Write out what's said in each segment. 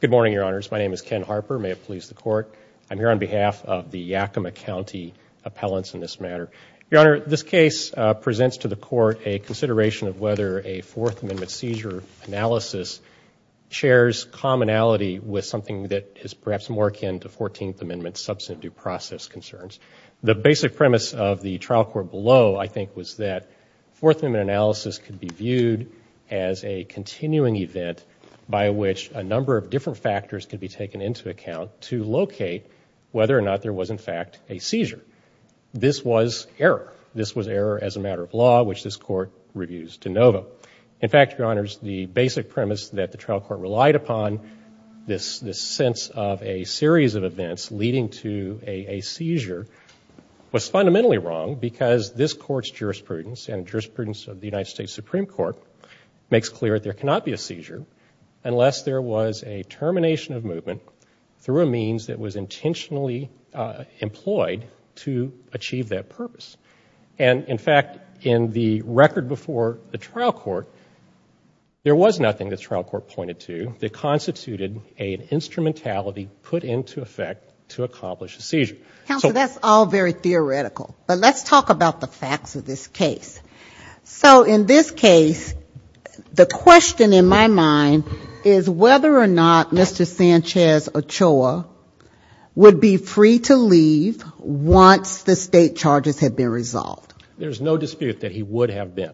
Good morning, Your Honors. My name is Ken Harper. May it please the Court, I'm here on behalf of the Yakima County Appellants in this matter. Your Honor, this case presents to the Court a consideration of whether a Fourth Amendment seizure analysis shares commonality with something that is perhaps more akin to Fourteenth Amendment substantive process concerns. The basic premise of the trial court below, I think, was that Fourth Amendment analysis could be viewed as a continuing event by which a number of different factors could be taken into account to locate whether or not there was, in fact, a seizure. This was error. This was error as a matter of law, which this Court reviews de novo. In fact, Your Honors, the basic premise that the trial court relied upon, this sense of a series of events leading to a seizure, was fundamentally wrong because this Court's jurisprudence and jurisprudence of the United States Supreme Court makes clear that there cannot be a seizure unless there was a termination of movement through a means that was intentionally employed to achieve that purpose. And in fact, in the record before the trial court, there was nothing the trial court pointed to that constituted an instrumentality put into effect to accomplish a seizure. Counsel, that's all very theoretical. But let's talk about the facts of this case. So in this case, the question in my mind is whether or not Mr. Sanchez Ochoa would be free to leave once the State charges had been resolved. There's no dispute that he would have been.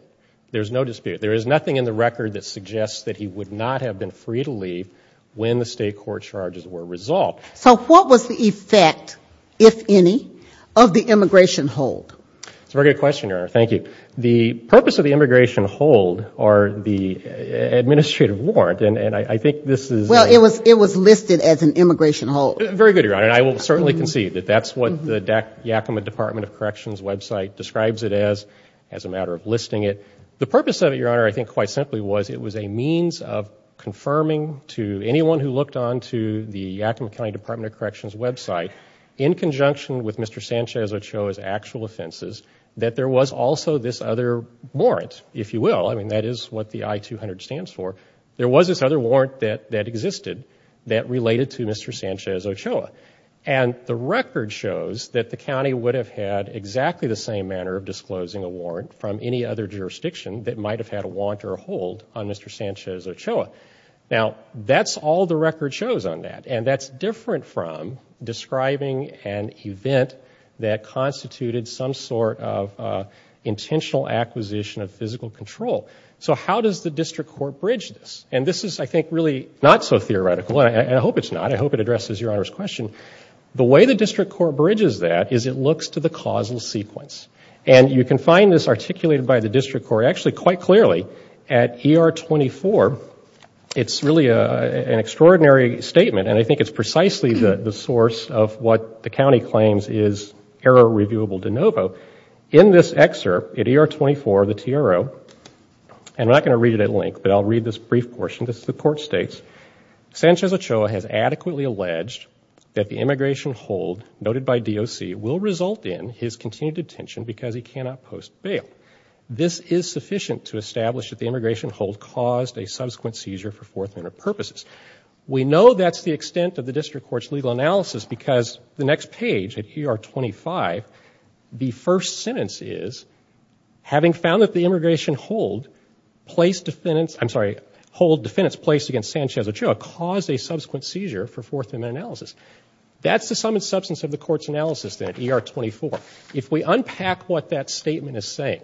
There's no dispute. There is nothing in the record that suggests that he would not have been free to leave when the State court charges were resolved. So what was the effect, if any, of the immigration hold? That's a very good question, Your Honor. Thank you. The purpose of the immigration hold or the administrative warrant, and I think this is... Well, it was listed as an immigration hold. Very good, Your Honor. And I will certainly concede that that's what the Yakima Department of Corrections website describes it as, as a matter of listing it. The purpose of it, Your Honor, I think quite simply was it was a means of confirming to anyone who looked onto the Yakima County Department of Corrections website, in conjunction with Mr. Sanchez Ochoa's actual offenses, that there was also this other warrant, if you will. I mean, that is what the I-200 stands for. There was this other warrant that existed that related to Mr. Sanchez Ochoa. And the record shows that the county would have had exactly the same manner of disclosing a warrant from any other jurisdiction that might have had a warrant or a hold on Mr. Sanchez Ochoa. Now, that's all the record shows on that. And that's different from describing an event that constituted some sort of intentional acquisition of physical control. So how does the district court bridge this? And this is, I think, really not so theoretical, and I hope it's not. I hope it addresses Your Honor's question. The way the district court bridges that is it looks to the causal sequence. And you can find this at ER 24. It's really an extraordinary statement, and I think it's precisely the source of what the county claims is error reviewable de novo. In this excerpt, at ER 24, the TRO, and I'm not going to read it at length, but I'll read this brief portion. This is the court states, Sanchez Ochoa has adequately alleged that the immigration hold noted by DOC will result in his continued detention because he cannot post bail. This is sufficient to establish that the immigration hold caused a subsequent seizure for Fourth Amendment purposes. We know that's the extent of the district court's legal analysis because the next page at ER 25, the first sentence is, having found that the immigration hold placed defendants, I'm sorry, hold defendants placed against Sanchez Ochoa caused a subsequent seizure for Fourth Amendment analysis. That's the sum and substance of the court's analysis then at ER 24. If we unpack what that statement is saying,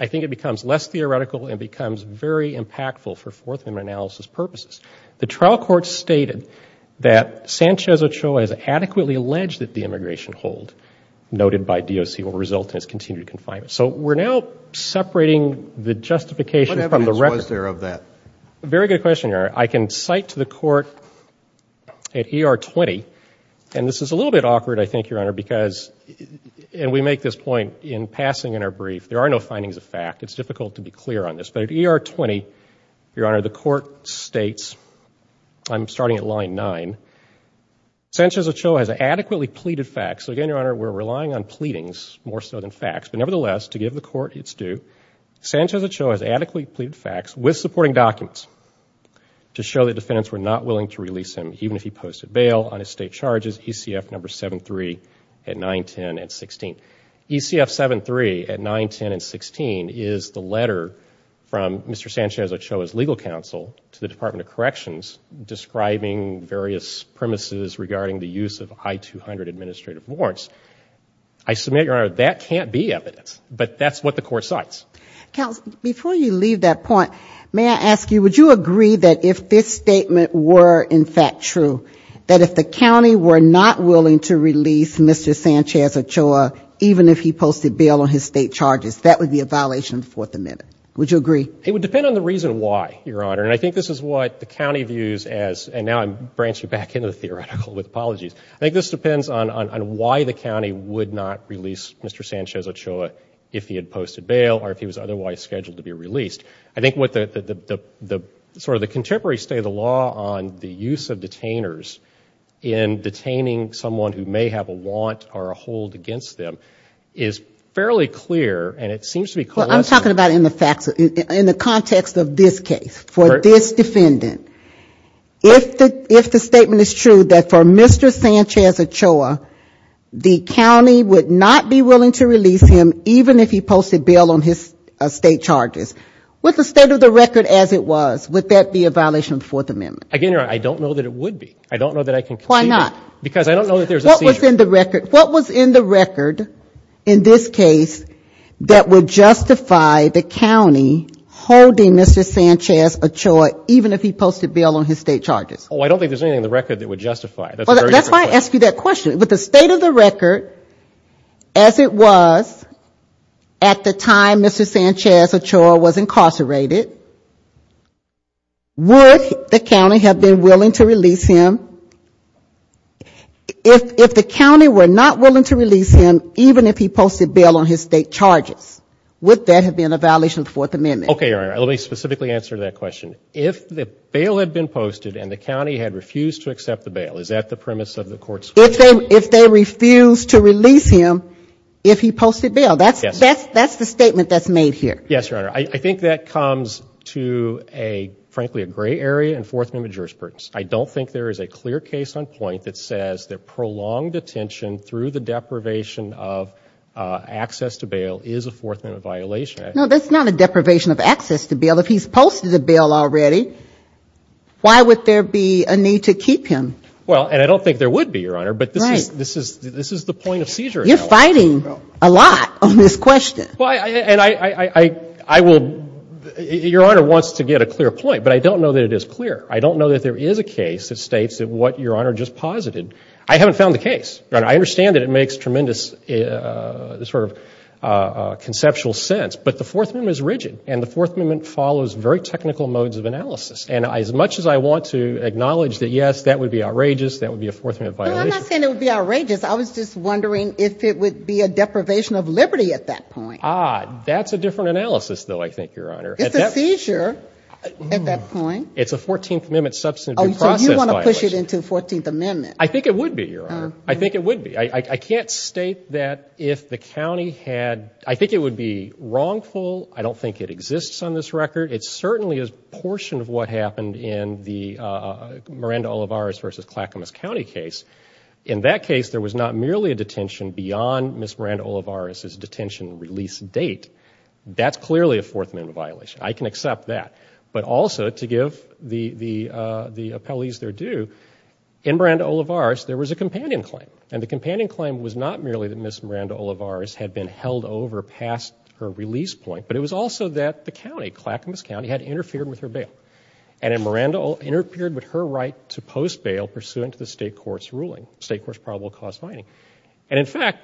I think it becomes less theoretical and becomes very impactful for Fourth Amendment analysis purposes. The trial court stated that Sanchez Ochoa has adequately alleged that the immigration hold noted by DOC will result in his continued confinement. So we're now separating the justification from the record. What evidence was there of that? Very good question, Your Honor. I can cite to the court at ER 20, and this is a little bit awkward, I think, Your Honor, because, and we make this point in passing in our brief, there are no findings of fact. It's difficult to be clear on this. But at ER 20, Your Honor, the court states, I'm starting at line nine, Sanchez Ochoa has adequately pleaded facts. So again, Your Honor, we're relying on pleadings more so than facts. But nevertheless, to give the court its due, Sanchez Ochoa has adequately pleaded facts with supporting documents to show that defendants were not willing to release him even if he posted bail on his state charges, ECF number 73 at 9, 10, and 16. ECF 73 at 9, 10, and 16 is the letter from Mr. Sanchez Ochoa's legal counsel to the Department of Corrections describing various premises regarding the use of I-200 administrative warrants. I submit, Your Honor, that can't be evidence. But that's what the court cites. Counsel, before you leave that point, may I ask you, would you agree that if this statement were in fact true, that if the county were not willing to release Mr. Sanchez Ochoa even if he posted bail on his state charges, that would be a violation of the Fourth Amendment? Would you agree? It would depend on the reason why, Your Honor. And I think this is what the county views as, and now I'm branching back into the theoretical with apologies, I think this depends on why the county would not release Mr. Sanchez Ochoa if he had posted bail or if he was otherwise scheduled to be released. I think what the contemporary state of the law on the use of detainers in detaining someone who may have a want or a hold against them is fairly clear and it seems to be coalescing. Well, I'm talking about in the context of this case, for this defendant. If the statement is true that for Mr. Sanchez Ochoa, the county would not be willing to release him even if he posted bail on his state charges, with the state of the record as it was, would that be a violation of the Fourth Amendment? Again, Your Honor, I don't know that it would be. I don't know that I can concede it. Why not? Because I don't know that there's a seizure. What was in the record, what was in the record in this case that would justify the county holding Mr. Sanchez Ochoa even if he posted bail on his state charges? Oh, I don't think there's anything in the record that would justify it. That's a very different question. With the state of the record as it was at the time Mr. Sanchez Ochoa was incarcerated, would the county have been willing to release him? If the county were not willing to release him even if he posted bail on his state charges, would that have been a violation of the Fourth Amendment? Okay, Your Honor. Let me specifically answer that question. If the bail had been posted and the county had refused to accept the bail, is that the premise of the court's ruling? If they refused to release him if he posted bail. That's the statement that's made here. Yes, Your Honor. I think that comes to a, frankly, a gray area in Fourth Amendment jurisprudence. I don't think there is a clear case on point that says that prolonged detention through the deprivation of access to bail is a Fourth Amendment violation. No, that's not a deprivation of access to bail. If he's posted a bail already, why would there be a need to keep him? Well, and I don't think there would be, Your Honor, but this is the point of seizure. You're fighting a lot on this question. Your Honor wants to get a clear point, but I don't know that it is clear. I don't know that there is a case that states what Your Honor just posited. I haven't found the case. I understand that it makes tremendous conceptual sense, but the Fourth Amendment is rigid and the Fourth Amendment follows very technical modes of analysis. And as much as I want to be outrageous, that would be a Fourth Amendment violation. But I'm not saying it would be outrageous. I was just wondering if it would be a deprivation of liberty at that point. Ah, that's a different analysis, though, I think, Your Honor. It's a seizure at that point. It's a Fourteenth Amendment substance abuse process violation. Oh, so you want to push it into the Fourteenth Amendment. I think it would be, Your Honor. I think it would be. I can't state that if the county had, I think it would be wrongful. I don't think it exists on this record. It certainly is a portion of what happened in the Miranda-Olivares versus Clackamas County case. In that case, there was not merely a detention beyond Ms. Miranda-Olivares' detention release date. That's clearly a Fourth Amendment violation. I can accept that. But also, to give the appellees their due, in Miranda-Olivares, there was a companion claim. And the companion claim was not merely that Ms. Miranda-Olivares had been held over past her release point, but it was also that the county, Clackamas County, had interfered with her bail. And that Miranda-Olivares interfered with her right to post bail pursuant to the state court's ruling, state court's probable cause finding. And in fact,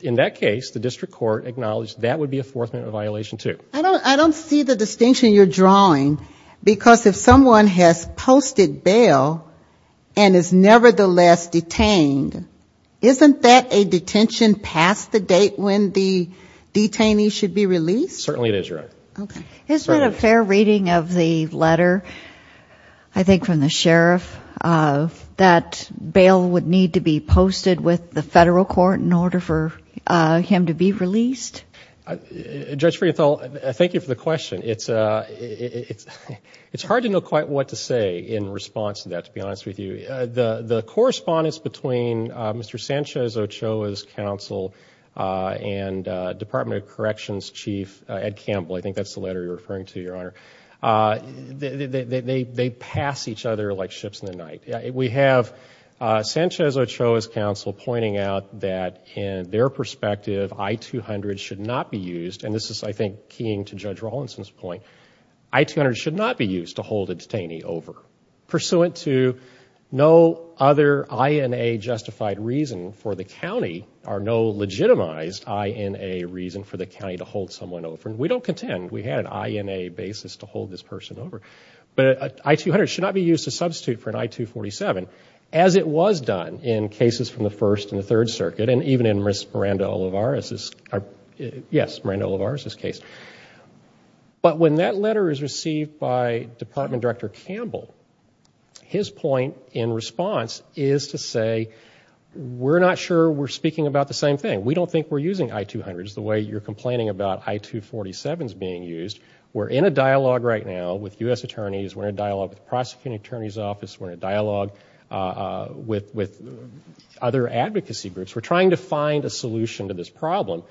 in that case, the district court acknowledged that would be a Fourth Amendment violation, too. I don't see the distinction you're drawing. Because if someone has posted bail and is nevertheless detained, isn't that a detention past the date when the detainee should be released? Certainly it is, Your Honor. Okay. Isn't it a fair reading of the letter, I think from the sheriff, that bail would need to be posted with the federal court in order for him to be released? Judge Frienthal, thank you for the question. It's hard to know quite what to say in response to that, to be honest with you. The correspondence between Mr. Sanchez-Ochoa's counsel and Department of Corrections Chief Ed Campbell, I think that's the letter you're referring to, Your Honor, they pass each other like ships in the night. We have Sanchez-Ochoa's counsel pointing out that in their perspective, I-200 should not be used, and this is I think keying to Judge Rawlinson's point, I-200 should not be used to hold a detainee over. Pursuant to no other INA justified reason for the county, or no legitimized INA reason for the county, to hold someone over. We don't contend. We had an INA basis to hold this person over. But I-200 should not be used to substitute for an I-247, as it was done in cases from the First and the Third Circuit, and even in Ms. Miranda-Olivares' case. But when that letter is received by Department Director Campbell, his point in response is to say, we're not sure we're speaking about the same thing. We don't think we're using I-200s the way you're complaining about I-247s being used. We're in a dialogue right now with U.S. attorneys. We're in a dialogue with the Prosecuting Attorney's Office. We're in a dialogue with other advocacy groups. We're trying to find a solution to this problem.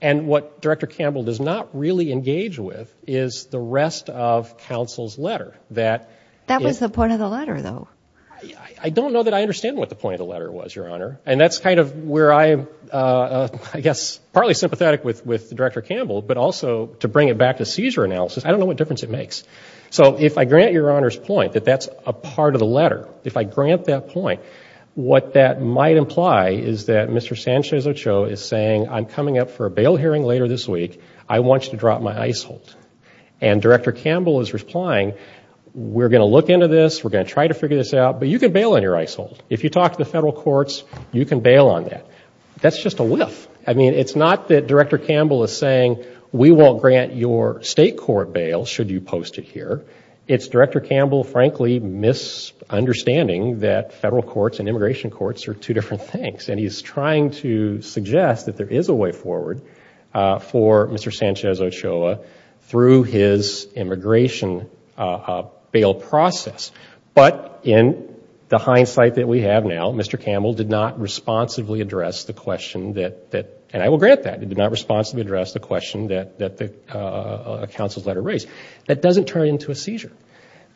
And what Director Campbell does not really engage with is the rest of counsel's letter. That was the point of the letter, though. I don't know that I understand what the point of the letter was, Your Honor. And that's kind of where I'm, I guess, partly sympathetic with Director Campbell, but also to bring it back to seizure analysis, I don't know what difference it makes. So if I grant Your Honor's point that that's a part of the letter, if I grant that point, what that might imply is that Mr. Sanchez-Ochoa is saying, I'm coming up for a bail hearing later this week. I want you to drop my I-200. And Director Campbell is replying, we're going to look into this, we're going to try to figure this out, but you can bail on your I-200. If you talk to federal courts, you can bail on that. That's just a whiff. I mean, it's not that Director Campbell is saying, we won't grant your state court bail should you post it here. It's Director Campbell, frankly, misunderstanding that federal courts and immigration courts are two different things. And he's trying to suggest that there is a way forward for Mr. Sanchez-Ochoa through his immigration bail process. But in the hindsight that we have now, Mr. Campbell did not responsibly address the question that, and I will grant that, he did not responsibly address the question that the counsel's letter raised. That doesn't turn into a seizure.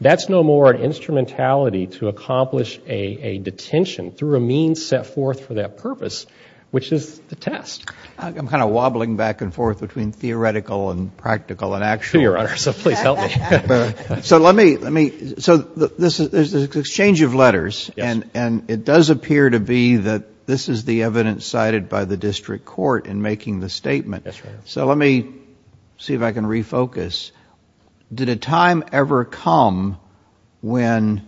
That's no more an instrumentality to accomplish a detention through a means set forth for that purpose, which is the test. I'm kind of wobbling back and forth between theoretical and practical and actual. To your honor, so please help me. So let me, so there's this exchange of letters, and it does appear to be that this is the evidence cited by the district court in making the statement. So let me see if I can refocus. Did a time ever come when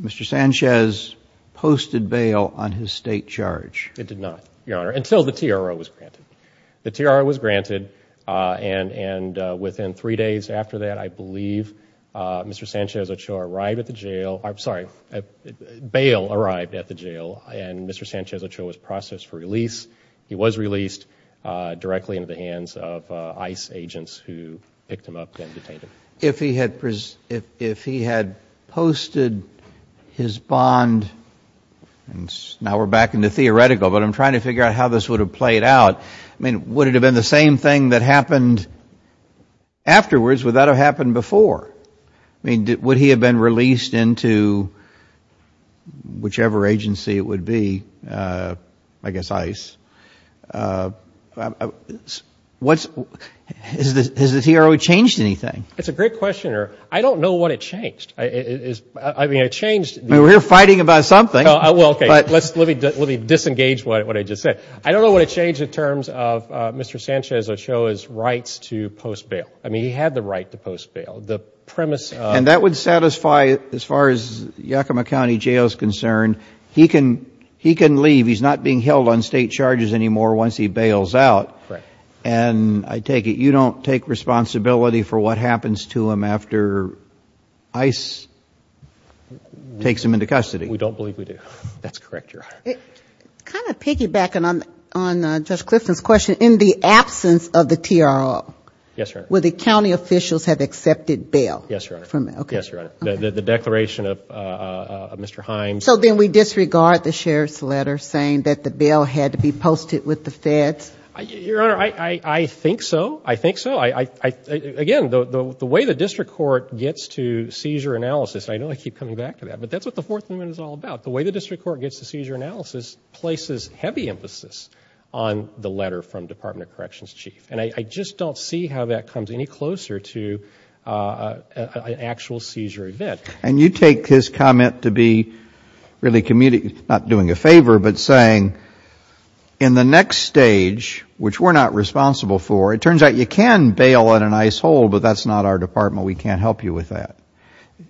Mr. Sanchez posted bail on his state charge? It did not, your honor, until the TRO was granted. The TRO was granted, and within three days after that, I believe, Mr. Sanchez-Ochoa arrived at the jail, I'm sorry, bail arrived at the jail, and Mr. Sanchez-Ochoa was processed for release. He was released directly into the hands of ICE agents who picked him up and detained him. If he had posted his bond, and now we're back into theoretical. But I'm trying to figure out how this would have played out. I mean, would it have been the same thing that happened afterwards? Would that have happened before? I mean, would he have been released into whichever agency it would be? I guess ICE. Has the TRO changed anything? It's a great question, your honor. I don't know what it changed. I mean, it changed- I mean, we're fighting about something. Well, okay, let me disengage what I just said. I don't know what it changed in terms of Mr. Sanchez-Ochoa's rights to post bail. I mean, he had the right to post bail. The premise- And that would satisfy, as far as Yakima County Jail is concerned, he can leave. He's not being held on state charges anymore once he bails out. And I take it you don't take responsibility for what happens to him after ICE takes him into custody. We don't believe we do. That's correct, your honor. Kind of piggybacking on Judge Clifton's question, in the absence of the TRO- Yes, your honor. Would the county officials have accepted bail? Yes, your honor. Okay. Yes, your honor. The declaration of Mr. Himes- So then we disregard the sheriff's letter saying that the bail had to be posted with the feds? Your honor, I think so. I think so. Again, the way the district court gets to seizure analysis, and I know I keep coming back to that, but that's what the Fourth Amendment is all about. The way the district court gets to seizure analysis places heavy emphasis on the letter from Department of Corrections Chief. And I just don't see how that comes any closer to an actual seizure event. And you take his comment to be really commuting, not doing a favor, but saying, in the next stage, which we're not responsible for, it turns out you can bail on an ICE hold, but that's not our department, we can't help you with that.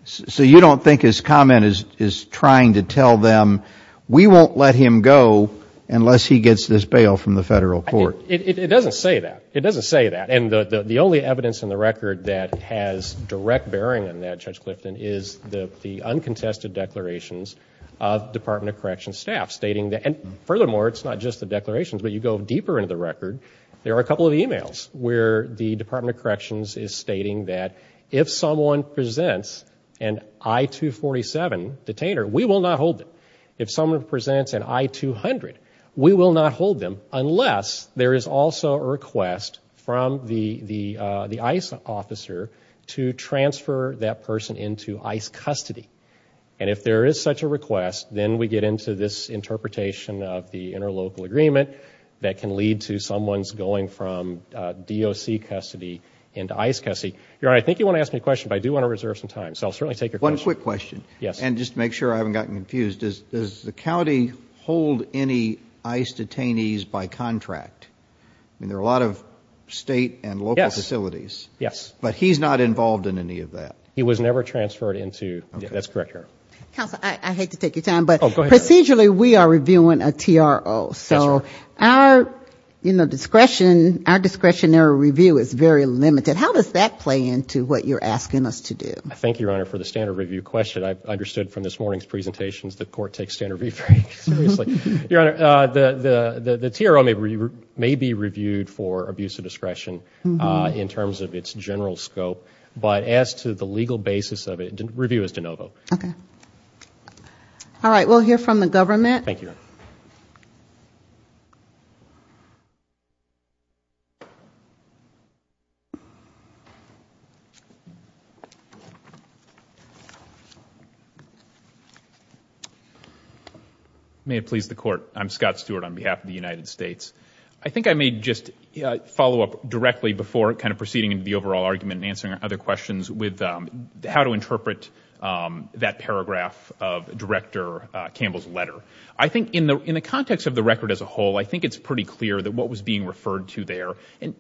So you don't think his comment is trying to tell them, we won't let him go unless he gets this bail from the federal court? It doesn't say that. It doesn't say that. And the only evidence in the record that has direct bearing on that, Judge Clifton, is the uncontested declarations of Department of Corrections staff stating that, and furthermore, it's not just the declarations, but you go deeper into the record, there are a couple of emails where the Department of Corrections is stating that if someone presents an I-247 detainer, we will not hold them. If someone presents an I-200, we will not hold them unless there is also a request from the ICE officer to transfer that person into ICE custody. And if there is such a request, then we get into this interpretation of the interlocal agreement that can lead to someone's going from DOC custody into ICE custody. Your Honor, I think you want to ask me a question, but I do want to reserve some time, so I'll certainly take your question. One quick question. Yes. And just to make sure I haven't gotten confused, does the county hold any ICE detainees by contract? I mean, there are a lot of state and local facilities. Yes. But he's not involved in any of that? He was never transferred into, that's correct, Your Honor. Counsel, I hate to take your time, but procedurally, we are reviewing a TRO, so our discretion and our discretionary review is very limited. How does that play into what you're asking us to do? Thank you, Your Honor, for the standard review question. I understood from this morning's presentations that court takes standard review very seriously. Your Honor, the TRO may be reviewed for abuse of discretion in terms of its general scope, but as to the legal basis of it, review is de novo. Okay. All right. We'll hear from the government. Thank you, Your Honor. May it please the Court. I'm Scott Stewart on behalf of the United States. I think I may just follow up directly before kind of proceeding into the overall argument and answering other questions with how to interpret that paragraph of Director Campbell's letter. I think in the context of the record as a whole, I think it's pretty clear that what was being referred to there, and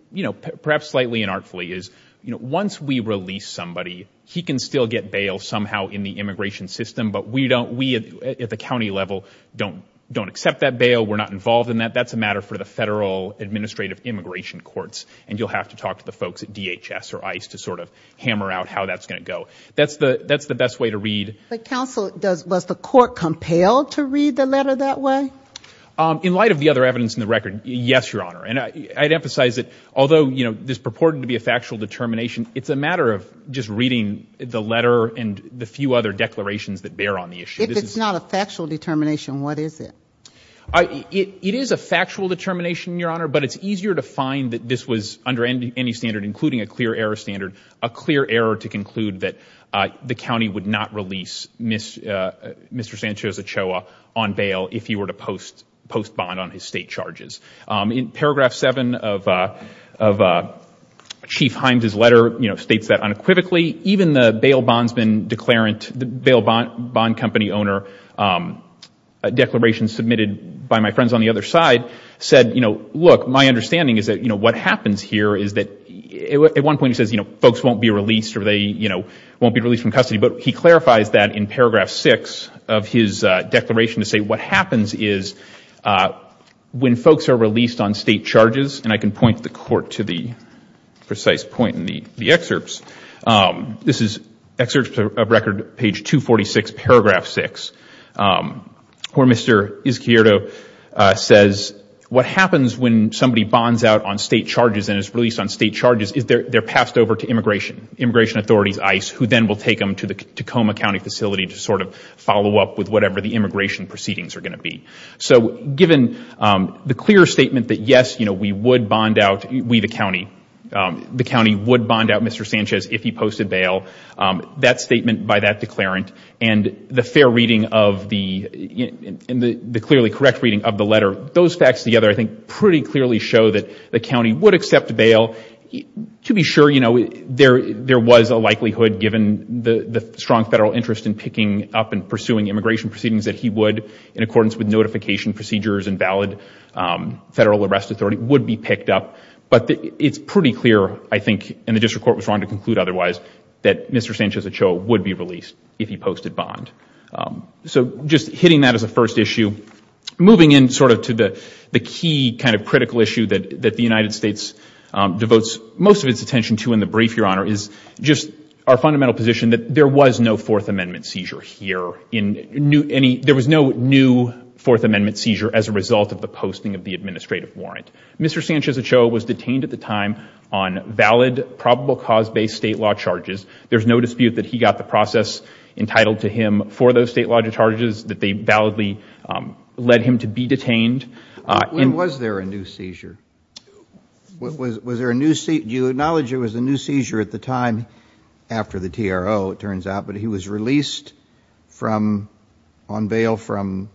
perhaps slightly inartfully, is once we release somebody, he can still get bail somehow in the immigration system, but we at the county level don't accept that bail. We're not involved in that. That's a matter for the Federal Administrative Immigration Courts, and you'll have to talk to the folks at DHS or ICE to sort of hammer out how that's going to go. That's the best way to read. Counsel, was the court compelled to read the letter that way? In light of the other evidence in the record, yes, Your Honor. And I'd emphasize that although this purported to be a factual determination, it's a matter of just reading the letter and the few other declarations that bear on the issue. If it's not a factual determination, what is it? It is a factual determination, Your Honor, but it's easier to find that this was under any standard, including a clear error standard, a clear error to conclude that the county would not release Mr. Sanchez Ochoa on bail if he were to post bond on his state charges. In paragraph 7 of Chief Himes' letter states that unequivocally, even the bail bond company owner, a declaration submitted by my friends on the other side, said, look, my understanding is that what happens here is that at one point he says folks won't be released or they won't be released. He clarifies that in paragraph 6 of his declaration to say what happens is when folks are released on state charges, and I can point the court to the precise point in the excerpts, this is excerpts of record page 246, paragraph 6, where Mr. Izquierdo says what happens when somebody bonds out on state charges and is released on state charges is they're passed over to immigration, immigration authorities, ICE, who then will take them to the Tacoma County facility to sort of follow up with whatever the immigration proceedings are going to be. So given the clear statement that yes, we would bond out, we the county, the county would bond out Mr. Sanchez if he posted bail, that statement by that declarant, and the fair reading of the, and the clearly correct reading of the letter, those facts together I think pretty clearly show that the county would accept bail. To be sure, you know, there was a likelihood given the strong federal interest in picking up and pursuing immigration proceedings that he would, in accordance with notification procedures and valid federal arrest authority, would be picked up. But it's pretty clear, I think, and the district court was wrong to conclude otherwise, that Mr. Sanchez Ochoa would be released if he posted bond. So just hitting that as a first issue, moving in sort of to the key kind of critical issue that the United States devotes most of its attention to in the brief, Your Honor, is just our fundamental position that there was no Fourth Amendment seizure here in any, there was no new Fourth Amendment seizure as a result of the posting of the administrative warrant. Mr. Sanchez Ochoa was detained at the time on valid, probable cause-based state law charges. There's no dispute that he got the process entitled to him for those state law charges, that they validly led him to be detained. When was there a new seizure? Was there a new seizure, you acknowledge there was a new seizure at the time after the TRO, it turns out, but he was released from, on bail from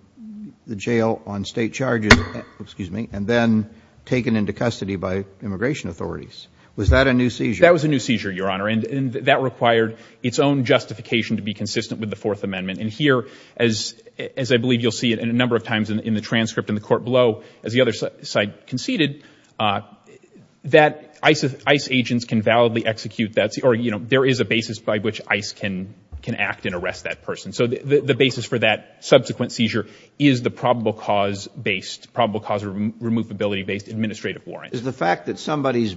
the jail on state charges, excuse me, and then taken into custody by immigration authorities. Was that a new seizure? That was a new seizure, Your Honor, and that required its own justification to be consistent with the Fourth Amendment. And here, as I believe you'll see it a number of times in the transcript in the court below, as the other side conceded, that ICE agents can validly execute that, or, you know, there is a basis by which ICE can act and arrest that person. So the basis for that subsequent seizure is the probable cause-based, probable cause-removability-based administrative warrant. Is the fact that somebody's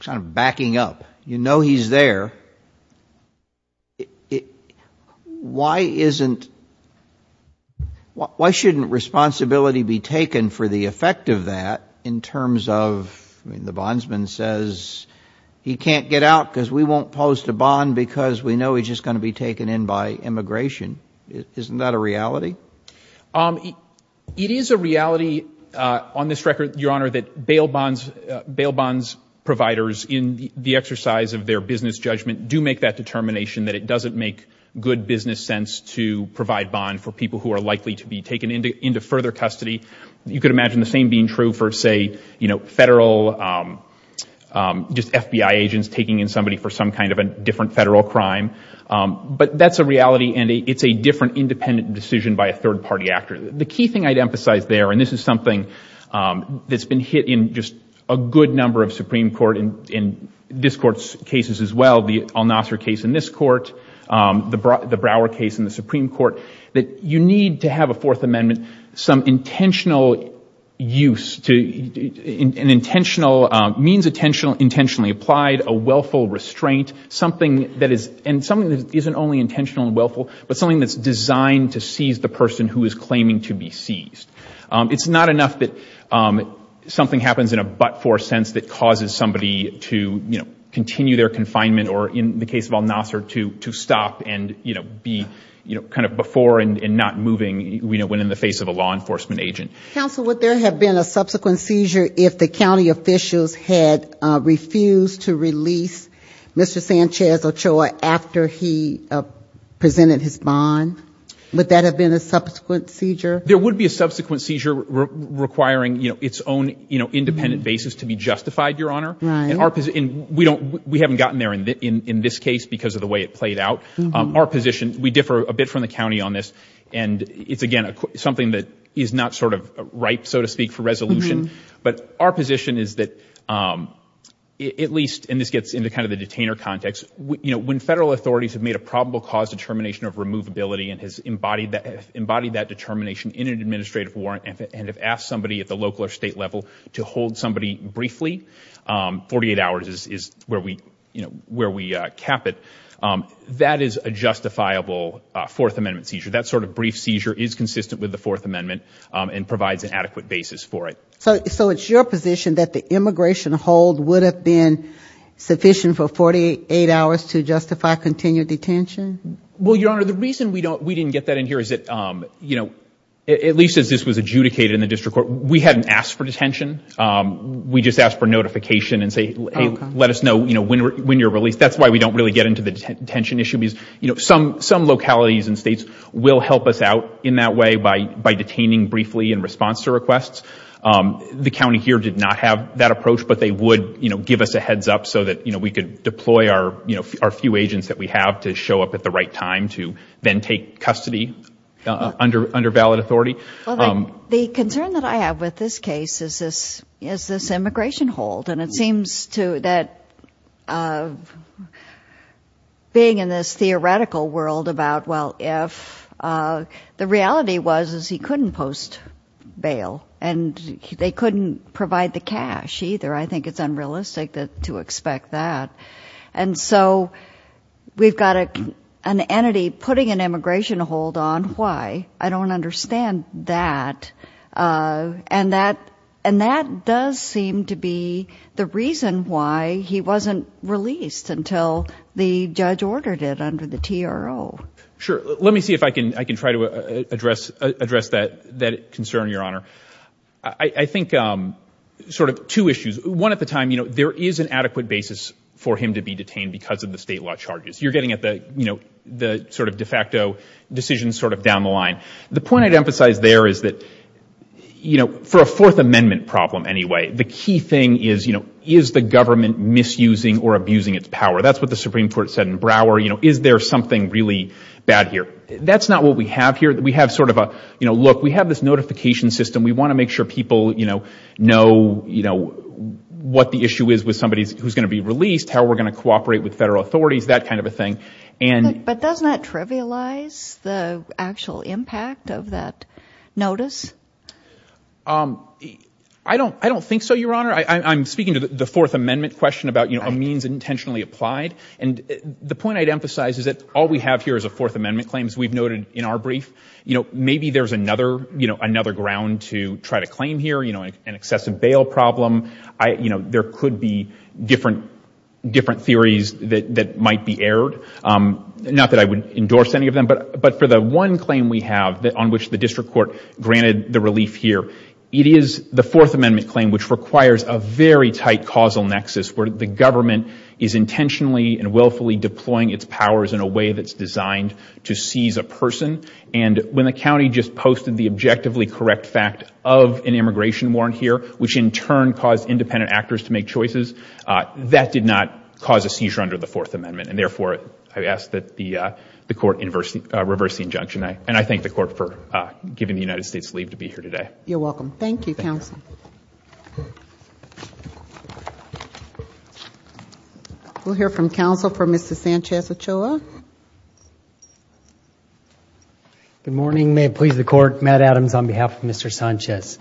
kind of backing up, you know he's there, why isn't, why shouldn't responsibility be taken for the effect of that in terms of, I mean, the bondsman says he can't get out because we won't post a bond because we know he's just going to be taken in by immigration. Isn't that a reality? It is a reality on this record, Your Honor, that bail bonds, bail bonds providers in the exercise of their business judgment do make that determination that it doesn't make good business sense to provide bond for people who are likely to be taken into further custody. You could imagine the same being true for, say, you know, federal, just FBI agents taking in somebody for some kind of a different federal crime. But that's a reality and it's a different independent decision by a third-party actor. The key thing I'd emphasize there, and this is something that's been hit in just a good number of Supreme Court and this Court's cases as well, the Al-Nasser case in this Court, the Brower case in the Supreme Court, that you need to have a Fourth Amendment, some intentional use to, an intentional, means intentionally applied, a willful restraint, something that is, and something that isn't only intentional and willful, but something that's designed to seize the person who is claiming to be seized. It's not enough that something happens in a but-for sense that causes somebody to, you know, continue their confinement or, in the case of Al-Nasser, to stop and, you know, be, you know, kind of before and not moving, you know, when in the face of a law enforcement agent. Counsel, would there have been a subsequent seizure if the county officials had refused to release Mr. Sanchez Ochoa after he presented his bond? Would that have been a subsequent seizure? There would be a subsequent seizure requiring, you know, its own, you know, independent basis to be justified, Your Honor. Right. And our position, we don't, we haven't gotten there in this case because of the way it played out. Our position, we differ a bit from the county on this, and it's, again, something that is not sort of ripe, so to speak, for resolution. But our position is that, at least, and this gets into kind of the detainer context, you know, when federal authorities have made a probable cause determination of removability and has embodied that, embodied that determination in an administrative warrant and have asked somebody at the local or state level to hold somebody briefly, 48 hours is where we, you know, where we cap it, that is a justifiable Fourth Amendment seizure. That sort of brief seizure is consistent with the Fourth Amendment and provides an adequate basis for it. So it's your position that the immigration hold would have been sufficient for 48 hours to justify continued detention? Well, Your Honor, the reason we don't, we didn't get that in here is that, you know, at least as this was adjudicated in the district court, we hadn't asked for detention. We just asked for notification and say, hey, let us know, you know, when you're released. That's why we don't really get into the detention issue because, you know, some, some localities and states will help us out in that way by, by detaining briefly in response to requests. The county here did not have that approach, but they would, you know, give us a heads up so that, you know, we could deploy our, you know, our few agents that we have to show up at the right time to then take custody under, under valid authority. The concern that I have with this case is this, is this immigration hold? And it seems to, that being in this theoretical world about, well, if, the reality was, is he couldn't post bail and they couldn't provide the cash either. I think it's unrealistic to expect that. And so we've got an entity putting an immigration hold on, why? I don't understand that. And that, and that does seem to be the reason why he wasn't released until the judge ordered it under the TRO. Sure. Let me see if I can, I can try to address, address that, that concern, Your Honor. I think sort of two issues. One at the time, you know, there is an adequate basis for him to be detained because of the state law charges. You're getting at the, you know, the sort of de facto decisions sort of down the line. The point I'd emphasize there is that, you know, for a Fourth Amendment problem anyway, the key thing is, you know, is the government misusing or abusing its power? That's what the Supreme Court said in Brouwer, you know, is there something really bad here? That's not what we have here. We have sort of a, you know, look, we have this notification system. We want to make sure people, you know, know, you know, what the issue is with somebody who's going to be released, how we're going to cooperate with federal authorities, that kind of a thing. But doesn't that trivialize the actual impact of that notice? I don't, I don't think so, Your Honor. I'm speaking to the Fourth Amendment question about, you know, a means intentionally applied. And the point I'd emphasize is that all we have here is a Fourth Amendment claim, as we've noted in our brief. You know, maybe there's another, you know, another ground to try to claim here, you know, an excessive I wouldn't endorse any of them, but for the one claim we have that on which the district court granted the relief here, it is the Fourth Amendment claim, which requires a very tight causal nexus where the government is intentionally and willfully deploying its powers in a way that's designed to seize a person. And when the county just posted the objectively correct fact of an immigration warrant here, which in turn caused independent actors to make I ask that the court reverse the injunction. And I thank the court for giving the United States leave to be here today. You're welcome. Thank you, counsel. We'll hear from counsel for Mr. Sanchez-Ochoa. Good morning. May it please the court. Matt Adams on behalf of Mr. Sanchez.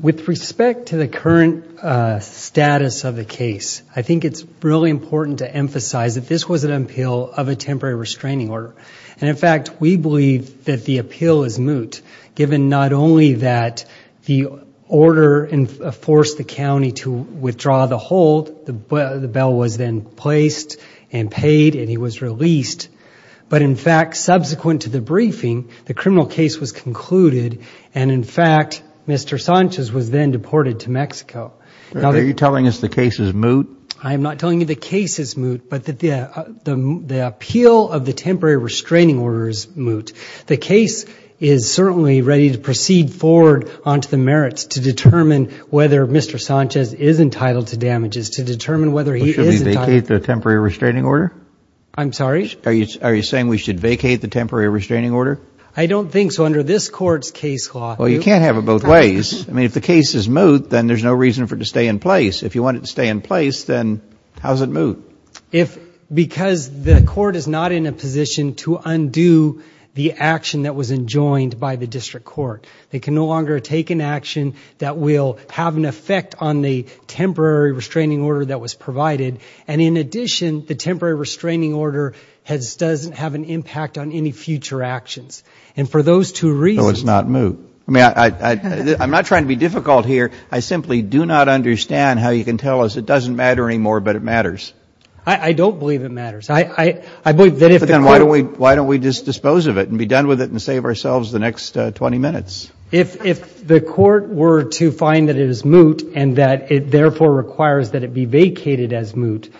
With respect to the current status of the case, I think it's really important to emphasize that this was an appeal of a temporary restraining order. And in fact, we believe that the appeal is moot, given not only that the order forced the county to withdraw the hold, the bell was then placed and paid and he was released. But in fact, subsequent to the briefing, the criminal case was concluded. And in fact, Mr. Sanchez was then deported to Mexico. Are you telling us the case is moot? I am not telling you the case is moot, but that the appeal of the temporary restraining order is moot. The case is certainly ready to proceed forward onto the merits to determine whether Mr. Sanchez is entitled to damages, to determine whether he is entitled to damages. Should we vacate the temporary restraining order? I'm sorry? Are you saying we should vacate the temporary restraining order? I don't think so. Under this court's case law, you can't have it both ways. I mean, if the case is moot, then there's no reason for it to stay in place. If you want it to stay in place, then how is it moot? Because the court is not in a position to undo the action that was enjoined by the district court. They can no longer take an action that will have an effect on the temporary restraining order that was provided. And in addition, the temporary restraining order doesn't have an impact on any future actions. And for those two reasons So it's not moot? I mean, I'm not trying to be difficult here. I simply do not understand how you can tell us it doesn't matter anymore, but it matters. I don't believe it matters. I believe that if the court Then why don't we just dispose of it and be done with it and save ourselves the next 20 minutes? If the court were to find that it is moot and that it therefore requires that it be vacated as moot,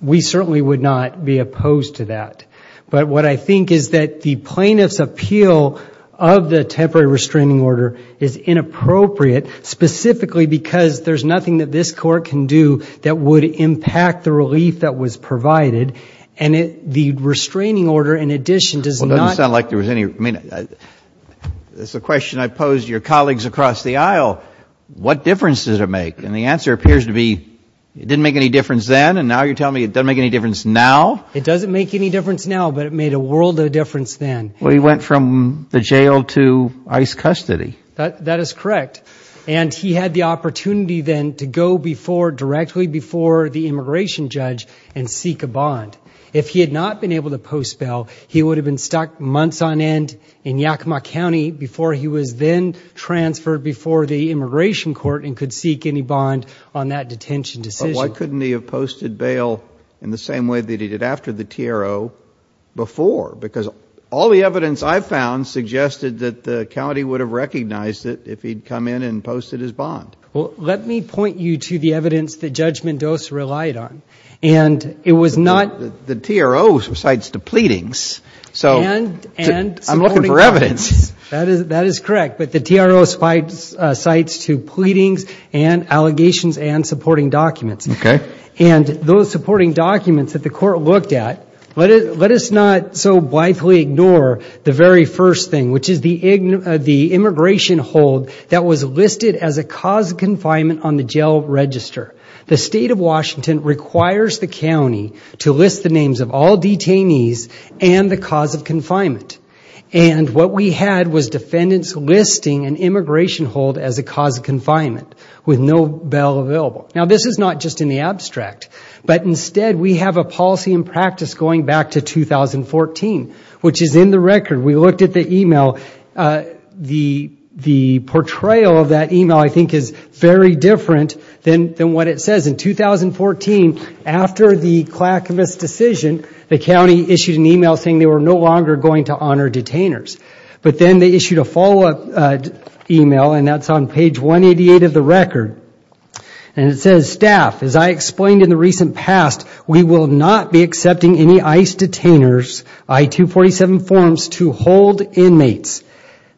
we certainly would not be opposed to that. But what I think is that the plaintiff's appeal of the temporary restraining order is inappropriate, specifically because there's nothing that this court can do that would impact the relief that was provided. And the restraining order, in addition, does not Well, it doesn't sound like there was any, I mean, it's a question I pose to your colleagues across the aisle. What difference does it make? And the answer appears to be it didn't make any difference then, and now you're telling me it doesn't make any difference now? It doesn't make any difference now, but it made a world of difference then. Well, he went from the jail to ICE custody. That is correct. And he had the opportunity then to go before, directly before the immigration judge and seek a bond. If he had not been able to post bail, he would have been stuck months on end in Yakima County before he was then transferred before the immigration court and could seek any bond on that detention decision. But why couldn't he have posted bail in the same way that he did after the TRO before? Because all the evidence I found suggested that the county would have recognized it if he'd come in and posted his bond. Well, let me point you to the evidence that Judge Mendoza relied on. And it was not The TRO cites to pleadings, so I'm looking for evidence. That is correct. But the TRO cites to pleadings and allegations and supporting documents. And those supporting documents that the court looked at, let us not so blithely ignore the very first thing, which is the immigration hold that was listed as a cause of confinement on the jail register. The state of Washington requires the county to list the names of all detainees and the cause of confinement. And what we had was defendants listing an immigration hold as a cause of confinement with no bail available. Now, this is not just in the abstract, but instead we have a policy and practice going back to 2014, which is in the record. We looked at the email. The portrayal of that email, I think, is very different than what it says. In 2014, after the Clackamas decision, the county issued an email saying they were no longer going to honor detainers. But then they issued a follow-up email, and that's on page 188 of the record. And it says, Staff, as I explained in the recent past, we will not be accepting any ICE detainers, I-247 forms, to hold inmates.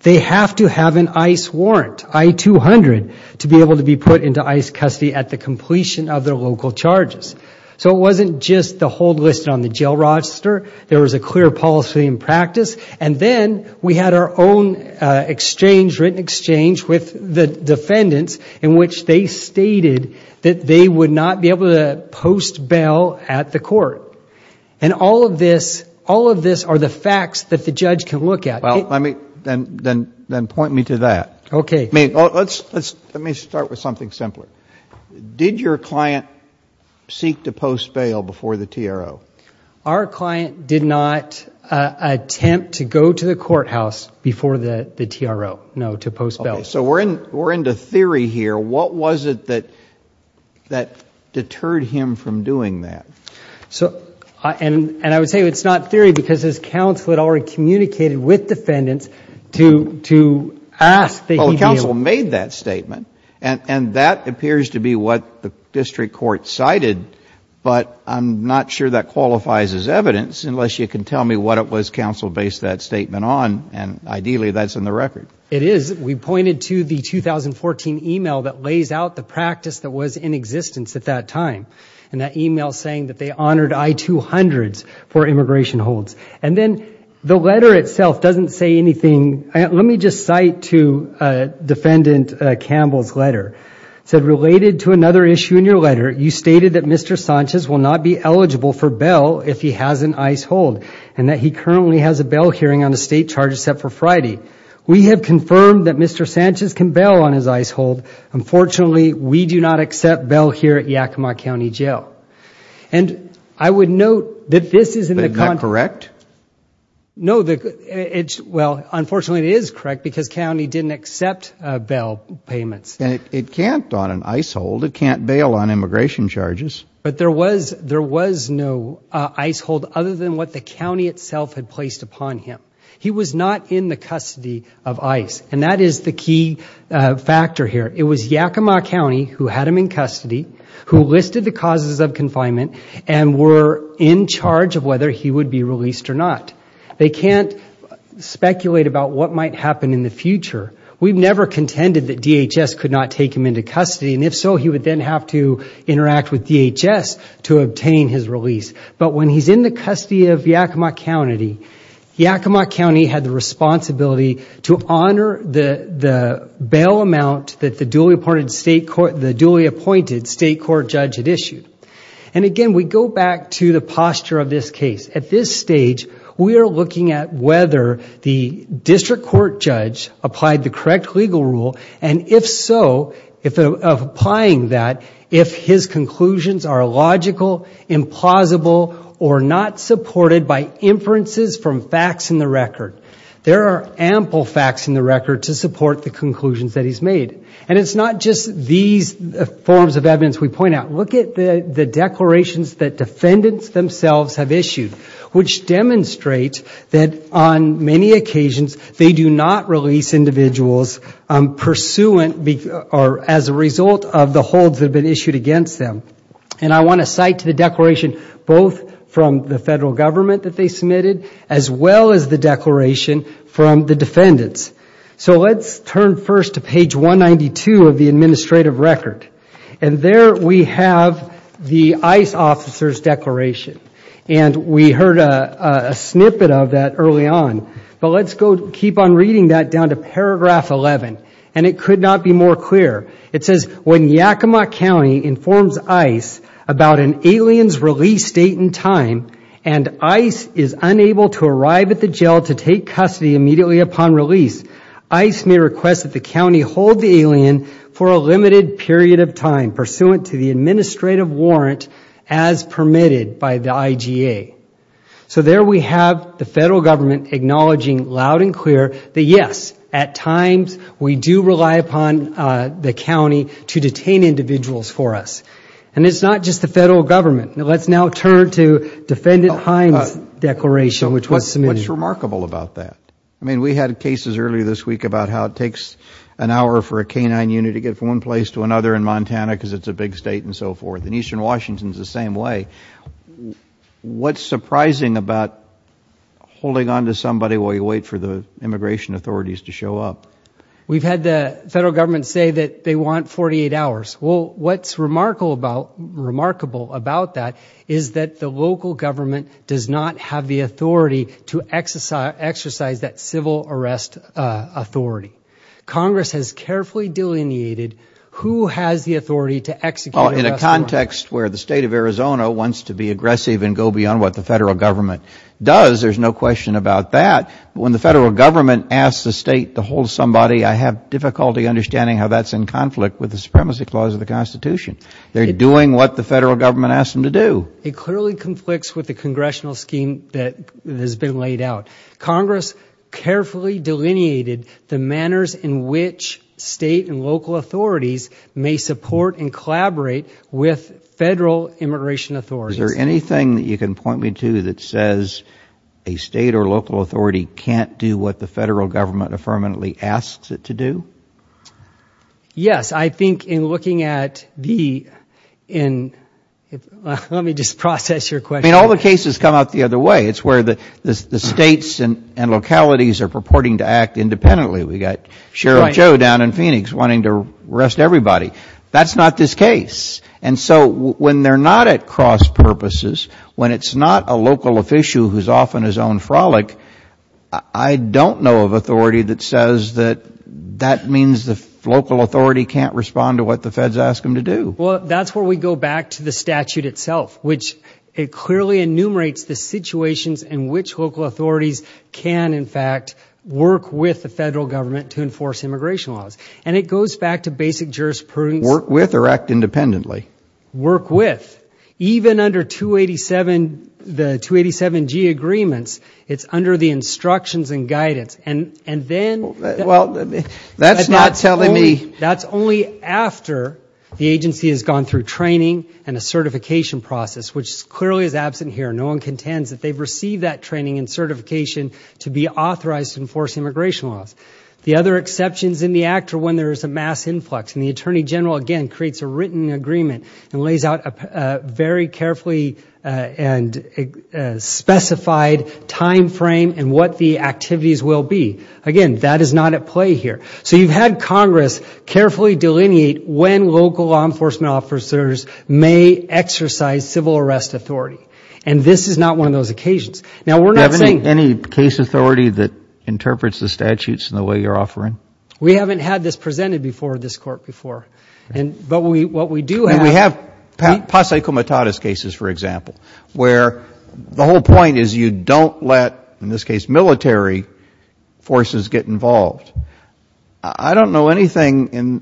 They have to have an ICE warrant, I-200, to be able to be put into ICE custody at the completion of their local charges. So it wasn't just the hold listed on the jail register, there was a clear policy and practice. And then we had our own exchange, written exchange, with the defendants in which they stated that they would not be able to post bail at the court. And all of this, all of this are the facts that the judge can look at. Well, let me, then point me to that. Okay. I mean, let's, let's, let me start with something simpler. Did your client seek to post bail before the TRO? Our client did not attempt to go to the courthouse before the TRO, no, to post bail. Okay. So we're in, we're into theory here. What was it that, that deterred him from doing that? So, and, and I would say it's not theory, because his counsel had already communicated with defendants to, to ask that he be able... Well, the counsel made that statement, and, and that appears to be what the district court cited, but I'm not sure that qualifies as evidence, unless you can tell me what it was counsel based that statement on, and ideally that's in the record. It is. We pointed to the 2014 email that lays out the practice that was in existence at that time, and that email saying that they honored I-200s for immigration holds. And then the letter itself doesn't say anything. Let me just cite to Defendant Campbell's letter, said, related to another issue in your letter, you stated that Mr. Sanchez will not be eligible for bail if he has an ICE hold, and that he currently has a bail hearing on a state charge set for Friday. We have confirmed that Mr. Sanchez can bail on his ICE hold. Unfortunately, we do not accept bail here at Yakima County Jail. And I would note that this is in the... Isn't that correct? No, the, it's, well, unfortunately it is correct, because county didn't accept bail payments. It can't on an ICE hold, it can't bail on immigration charges. But there was no ICE hold other than what the county itself had placed upon him. He was not in the custody of ICE, and that is the key factor here. It was Yakima County who had him in custody, who listed the causes of confinement, and were in charge of whether he would be released or not. They can't speculate about what might happen in the future. We've never contended that DHS could not take him into custody, and if so, he would then have to interact with DHS to obtain his release. But when he's in the custody of Yakima County, Yakima County had the responsibility to honor the bail amount that the duly appointed state court judge had issued. And again, we go back to the posture of this case. At this stage, we are looking at whether the district court judge applied the correct legal rule, and if so, of applying that, if his conclusions are logical, implausible, or not supported by inferences from facts in the record. There are ample facts in the record to support the conclusions that he's made. And it's not just these forms of evidence we point out. Look at the declarations that defendants themselves have issued, which demonstrate that on many occasions, they do not release individuals pursuant or as a result of the holds that have been issued against them. And I want to cite the declaration both from the federal government that they submitted as well as the declaration from the defendants. So let's turn first to page 192 of the administrative record. And there we have the ICE officer's declaration. And we heard a snippet of that early on. But let's go keep on reading that down to paragraph 11, and it could not be more clear. It says, when Yakima County informs ICE about an alien's release date and time, and ICE is unable to arrive at the jail to take custody immediately upon release, ICE may request that the county hold the alien for a limited period of time pursuant to the administrative warrant as permitted by the IGA. So there we have the federal government acknowledging loud and clear that yes, at times, we do rely upon the county to detain individuals for us. And it's not just the federal government. Let's now turn to Defendant Hines' declaration, which was submitted. What's remarkable about that? I mean, we had cases earlier this week about how it takes an hour for a canine unit to get from one place to another in Montana because it's a big state and so forth. And eastern Washington is the same way. What's surprising about holding on to somebody while you wait for the immigration authorities to show up? We've had the federal government say that they want 48 hours. Well, what's remarkable about that is that the local government does not have the authority to exercise that civil arrest authority. Congress has carefully delineated who has the authority to execute an arrest warrant. Well, in a context where the state of Arizona wants to be aggressive and go beyond what the federal government does, there's no question about that. When the federal government asks the state to hold somebody, I have difficulty understanding how that's in conflict with the Supremacy Clause of the Constitution. They're doing what the federal government asked them to do. It clearly conflicts with the congressional scheme that has been laid out. Congress carefully delineated the manners in which state and local authorities may support and collaborate with federal immigration authorities. Is there anything that you can point me to that says a state or local authority can't do what the federal government affirmatively asks it to do? Yes, I think in looking at the, let me just process your question. I mean, all the cases come out the other way. It's where the states and localities are purporting to act independently. We've got Sheriff Joe down in Phoenix wanting to arrest everybody. That's not this case. And so when they're not at cross purposes, when it's not a local officio who's off on local authority can't respond to what the feds ask them to do. Well, that's where we go back to the statute itself, which it clearly enumerates the situations in which local authorities can, in fact, work with the federal government to enforce immigration laws. And it goes back to basic jurisprudence. Work with or act independently. Work with. Even under the 287G agreements, it's under the instructions and guidance. And then. Well, that's not telling me. That's only after the agency has gone through training and a certification process, which clearly is absent here. No one contends that they've received that training and certification to be authorized to enforce immigration laws. The other exceptions in the act are when there is a mass influx. And the Attorney General, again, creates a written agreement and lays out a very carefully and specified time frame and what the activities will be. Again, that is not at play here. So you've had Congress carefully delineate when local law enforcement officers may exercise civil arrest authority. And this is not one of those occasions. Now, we're not saying any case authority that interprets the statutes in the way you're offering. We haven't had this presented before this court before. But what we do have. We have Posse Comitatus cases, for example, where the whole point is you don't let, in this case, military forces get involved. I don't know anything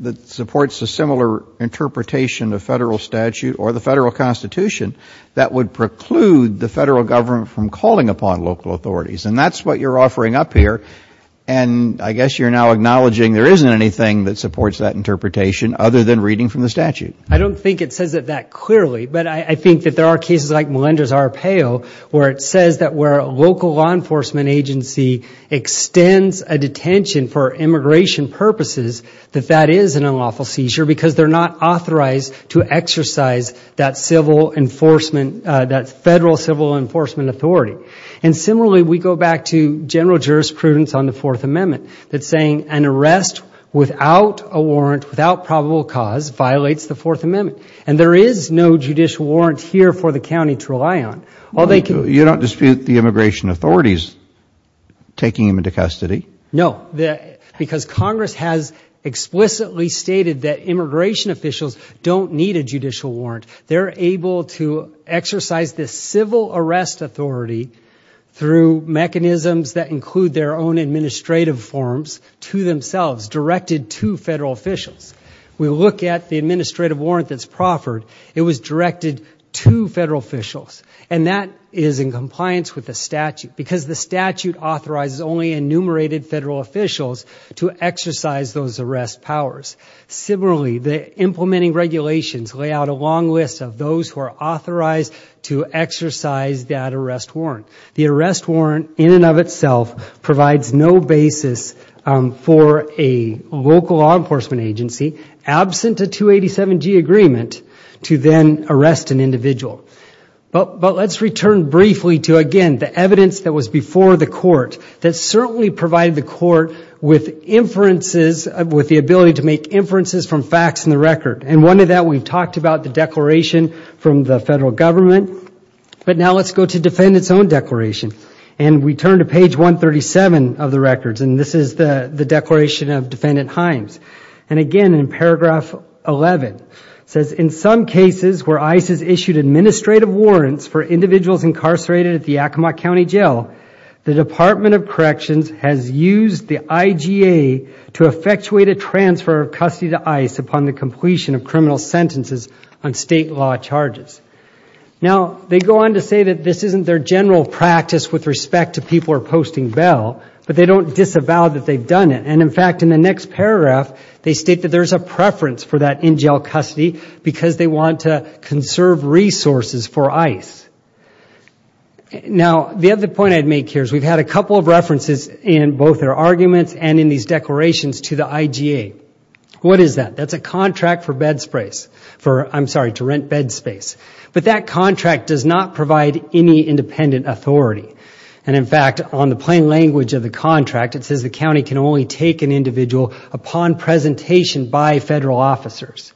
that supports a similar interpretation of federal statute or the federal constitution that would preclude the federal government from calling upon local authorities. And that's what you're offering up here. And I guess you're now acknowledging there isn't anything that supports that interpretation other than reading from the statute. I don't think it says it that clearly. But I think that there are cases like Melinda's Arpaio, where it says that where a local law enforcement agency extends a detention for immigration purposes, that that is an unlawful seizure because they're not authorized to exercise that federal civil enforcement authority. And similarly, we go back to general jurisprudence on the Fourth Amendment that's saying an arrest without a warrant, without probable cause, violates the Fourth Amendment. And there is no judicial warrant here for the county to rely on. You don't dispute the immigration authorities taking him into custody? No, because Congress has explicitly stated that immigration officials don't need a judicial warrant. They're able to exercise this civil arrest authority through mechanisms that include their own administrative forms to themselves, directed to federal officials. We look at the administrative warrant that's proffered. It was directed to federal officials, and that is in compliance with the statute because the statute authorizes only enumerated federal officials to exercise those arrest powers. Similarly, the implementing regulations lay out a long list of those who are authorized to exercise that arrest warrant. The arrest warrant in and of itself provides no basis for a local law enforcement agency absent a 287G agreement to then arrest an individual. But let's return briefly to, again, the evidence that was before the court that certainly provided the court with inferences, with the ability to make inferences from facts in the record. And one of that, we've talked about the declaration from the federal government. But now let's go to defendant's own declaration. And we turn to page 137 of the records, and this is the declaration of Defendant Himes. And again, in paragraph 11, it says, in some cases where ICE has issued administrative warrants for individuals incarcerated at the Yakima County Jail, the Department of the IGA to effectuate a transfer of custody to ICE upon the completion of criminal sentences on state law charges. Now, they go on to say that this isn't their general practice with respect to people who are posting bail, but they don't disavow that they've done it. And in fact, in the next paragraph, they state that there's a preference for that in-jail custody because they want to conserve resources for ICE. Now, the other point I'd make here is we've had a couple of references in both their arguments and in these declarations to the IGA. What is that? That's a contract for bed space, for, I'm sorry, to rent bed space. But that contract does not provide any independent authority. And in fact, on the plain language of the contract, it says the county can only take an individual upon presentation by federal officers.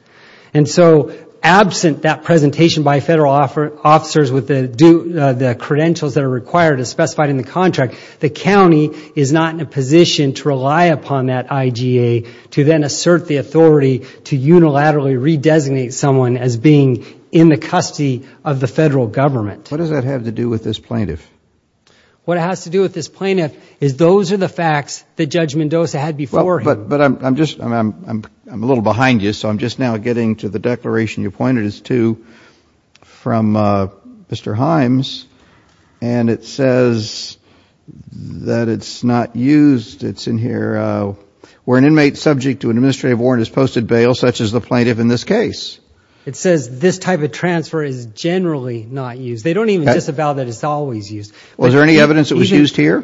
And so, absent that presentation by federal officers with the credentials that are required as specified in the contract, the county is not in a position to rely upon that IGA to then assert the authority to unilaterally redesignate someone as being in the custody of the federal government. What does that have to do with this plaintiff? What it has to do with this plaintiff is those are the facts that Judge Mendoza had before him. But I'm just, I'm a little behind you, so I'm just now getting to the declaration you pointed to from Mr. Himes. And it says that it's not used. It's in here, where an inmate subject to an administrative warrant is posted bail, such as the plaintiff in this case. It says this type of transfer is generally not used. They don't even disavow that it's always used. Was there any evidence that was used here?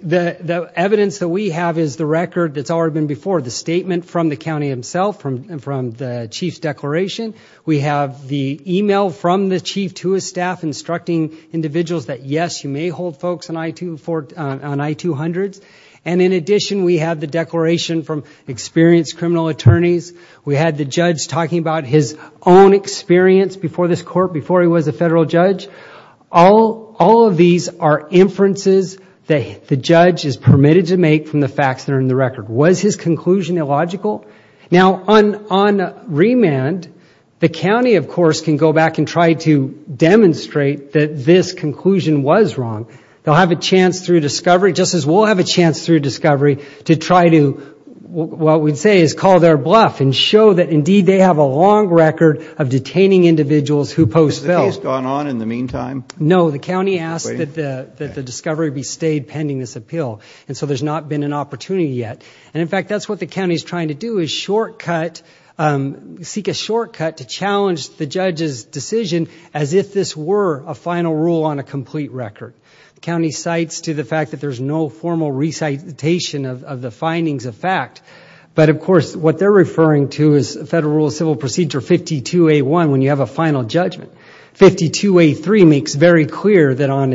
The evidence that we have is the record that's already been before, the statement from the county himself, from the chief's declaration. We have the email from the chief to his staff instructing individuals that yes, you may hold folks on I-200s. And in addition, we have the declaration from experienced criminal attorneys. We had the judge talking about his own experience before this court, before he was a federal judge. All of these are inferences that the judge is permitted to make from the facts that are in the record. Was his conclusion illogical? Now, on remand, the county, of course, can go back and try to demonstrate that this conclusion was wrong. They'll have a chance through discovery, just as we'll have a chance through discovery, to try to, what we'd say is call their bluff and show that indeed they have a long record of detaining individuals who post bail. Has the case gone on in the meantime? No. The county asked that the discovery be stayed pending this appeal. And so there's not been an opportunity yet. And in fact, that's what the county is trying to do, is seek a shortcut to challenge the judge's decision as if this were a final rule on a complete record. The county cites to the fact that there's no formal recitation of the findings of fact. But of course, what they're referring to is Federal Rule of Civil Procedure 52A1, when you have a final judgment. 52A3 makes very clear that on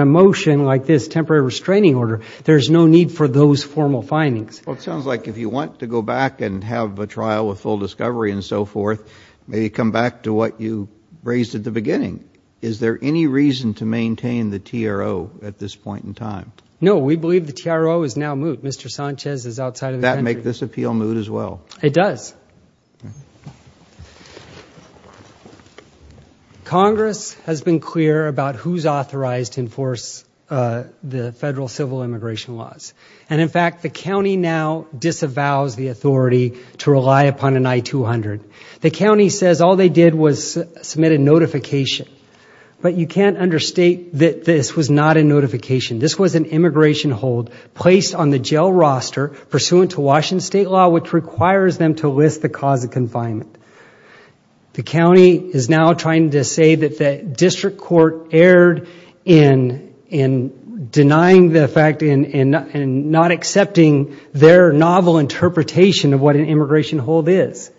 a motion like this, temporary restraining order, there's no need for those formal findings. Well, it sounds like if you want to go back and have a trial with full discovery and so forth, maybe come back to what you raised at the beginning. Is there any reason to maintain the TRO at this point in time? No. We believe the TRO is now moot. Mr. Sanchez is outside of the country. Does that make this appeal moot as well? It does. Congress has been clear about who's authorized to enforce the Federal Civil Immigration laws. And in fact, the county now disavows the authority to rely upon an I-200. The county says all they did was submit a notification. But you can't understate that this was not a notification. This was an immigration hold placed on the jail roster pursuant to Washington State law, which requires them to list the cause of confinement. The county is now trying to say that the district court erred in denying the fact and not accepting their novel interpretation of what an immigration hold is.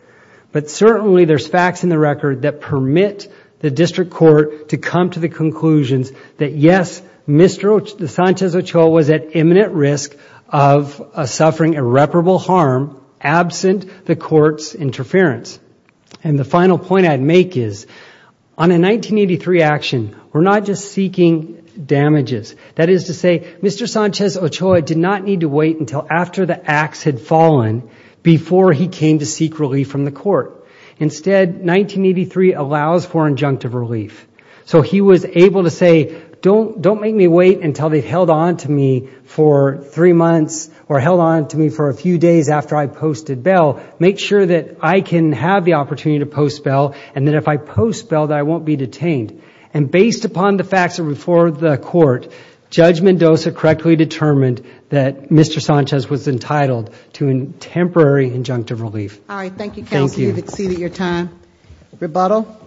But certainly, there's facts in the record that permit the district court to come to the conclusions that, yes, Mr. Sanchez Ochoa was at imminent risk of suffering irreparable harm absent the court's interference. And the final point I'd make is, on a 1983 action, we're not just seeking damages. That is to say, Mr. Sanchez Ochoa did not need to wait until after the axe had fallen before he came to seek relief from the court. Instead, 1983 allows for injunctive relief. So he was able to say, don't make me wait until they've held on to me for three months after I posted bail. Make sure that I can have the opportunity to post bail. And then if I post bail, that I won't be detained. And based upon the facts before the court, Judge Mendoza correctly determined that Mr. Sanchez was entitled to a temporary injunctive relief. All right. Thank you, counsel. You've exceeded your time. Rebuttal.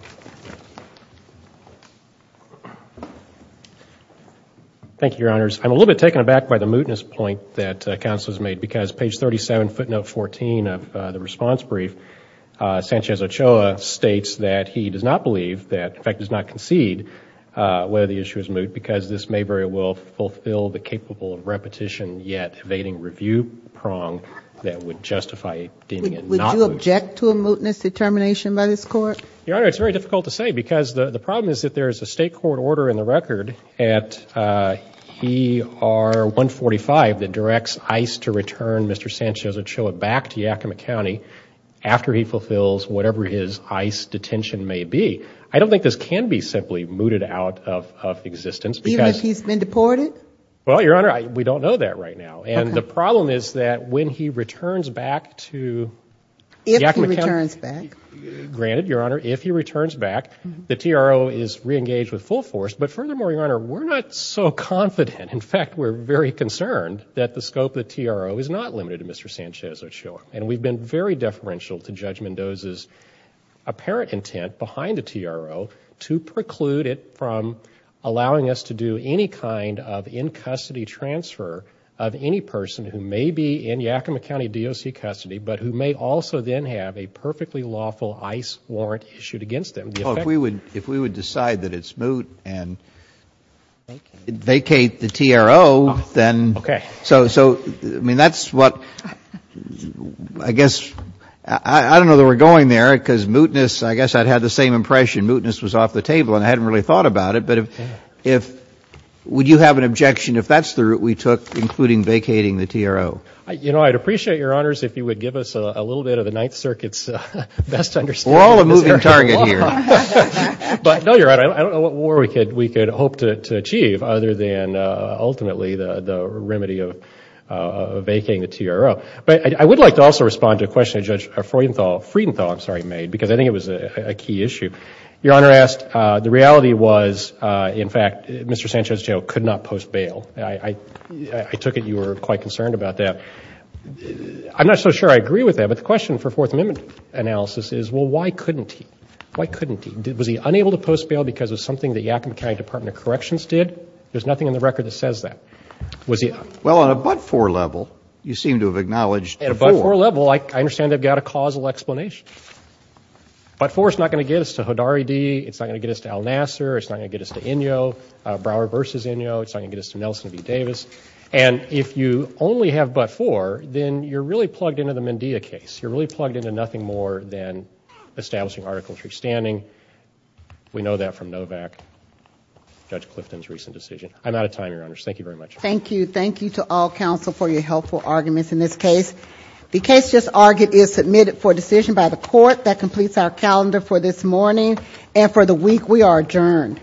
Thank you, Your Honors. I'm a little bit taken aback by the mootness point that counsel has made because page 37 footnote 14 of the response brief, Sanchez Ochoa states that he does not believe that, in fact, does not concede whether the issue is moot because this may very well fulfill the capable of repetition yet evading review prong that would justify deeming it not moot. Would you object to a mootness determination by this court? Your Honor, it's very difficult to say because the problem is that there is a state court order in the record at ER 145 that directs ICE to return Mr. Sanchez Ochoa back to Yakima County after he fulfills whatever his ICE detention may be. I don't think this can be simply mooted out of existence. Even if he's been deported? Well, Your Honor, we don't know that right now. And the problem is that when he returns back to Yakima County. If he returns back. Granted, Your Honor, if he returns back, the TRO is reengaged with full force. But furthermore, Your Honor, we're not so confident. In fact, we're very concerned that the scope of the TRO is not limited to Mr. Sanchez Ochoa. And we've been very deferential to Judge Mendoza's apparent intent behind the TRO to preclude it from allowing us to do any kind of in-custody transfer of any person who may be in Yakima County DOC custody, but who may also then have a perfectly lawful ICE warrant issued against them. Well, if we would decide that it's moot and vacate the TRO, then. Okay. So, I mean, that's what, I guess, I don't know that we're going there because mootness, I guess I'd had the same impression. Mootness was off the table and I hadn't really thought about it. But if, would you have an objection if that's the route we took, including vacating the TRO? You know, I'd appreciate, Your Honors, if you would give us a little bit of the Ninth Circuit's best understanding. We're all a moving target here. But no, you're right. I don't know what more we could hope to achieve other than ultimately the remedy of vacating the TRO. But I would like to also respond to a question that Judge Freidenthal made, because I think it was a key issue. Your Honor asked, the reality was, in fact, Mr. Sanchez Ochoa could not post bail. I took it you were quite concerned about that. I'm not so sure I agree with that. But the question for Fourth Amendment analysis is, well, why couldn't he? Why couldn't he? Was he unable to post bail because of something the Yakima County Department of Corrections did? There's nothing in the record that says that. Well, on a but-for level, you seem to have acknowledged before. At a but-for level, I understand they've got a causal explanation. But-for is not going to get us to Hodari D. It's not going to get us to Al Nasser. It's not going to get us to Inyo. Brower versus Inyo. It's not going to get us to Nelson B. Davis. And if you only have but-for, then you're really plugged into the Mendia case. You're really plugged into nothing more than establishing Article III standing. We know that from Novak, Judge Clifton's recent decision. I'm out of time, Your Honors. Thank you very much. Thank you. Thank you to all counsel for your helpful arguments in this case. The case just argued is submitted for decision by the court. That completes our calendar for this morning. And for the week, we are adjourned.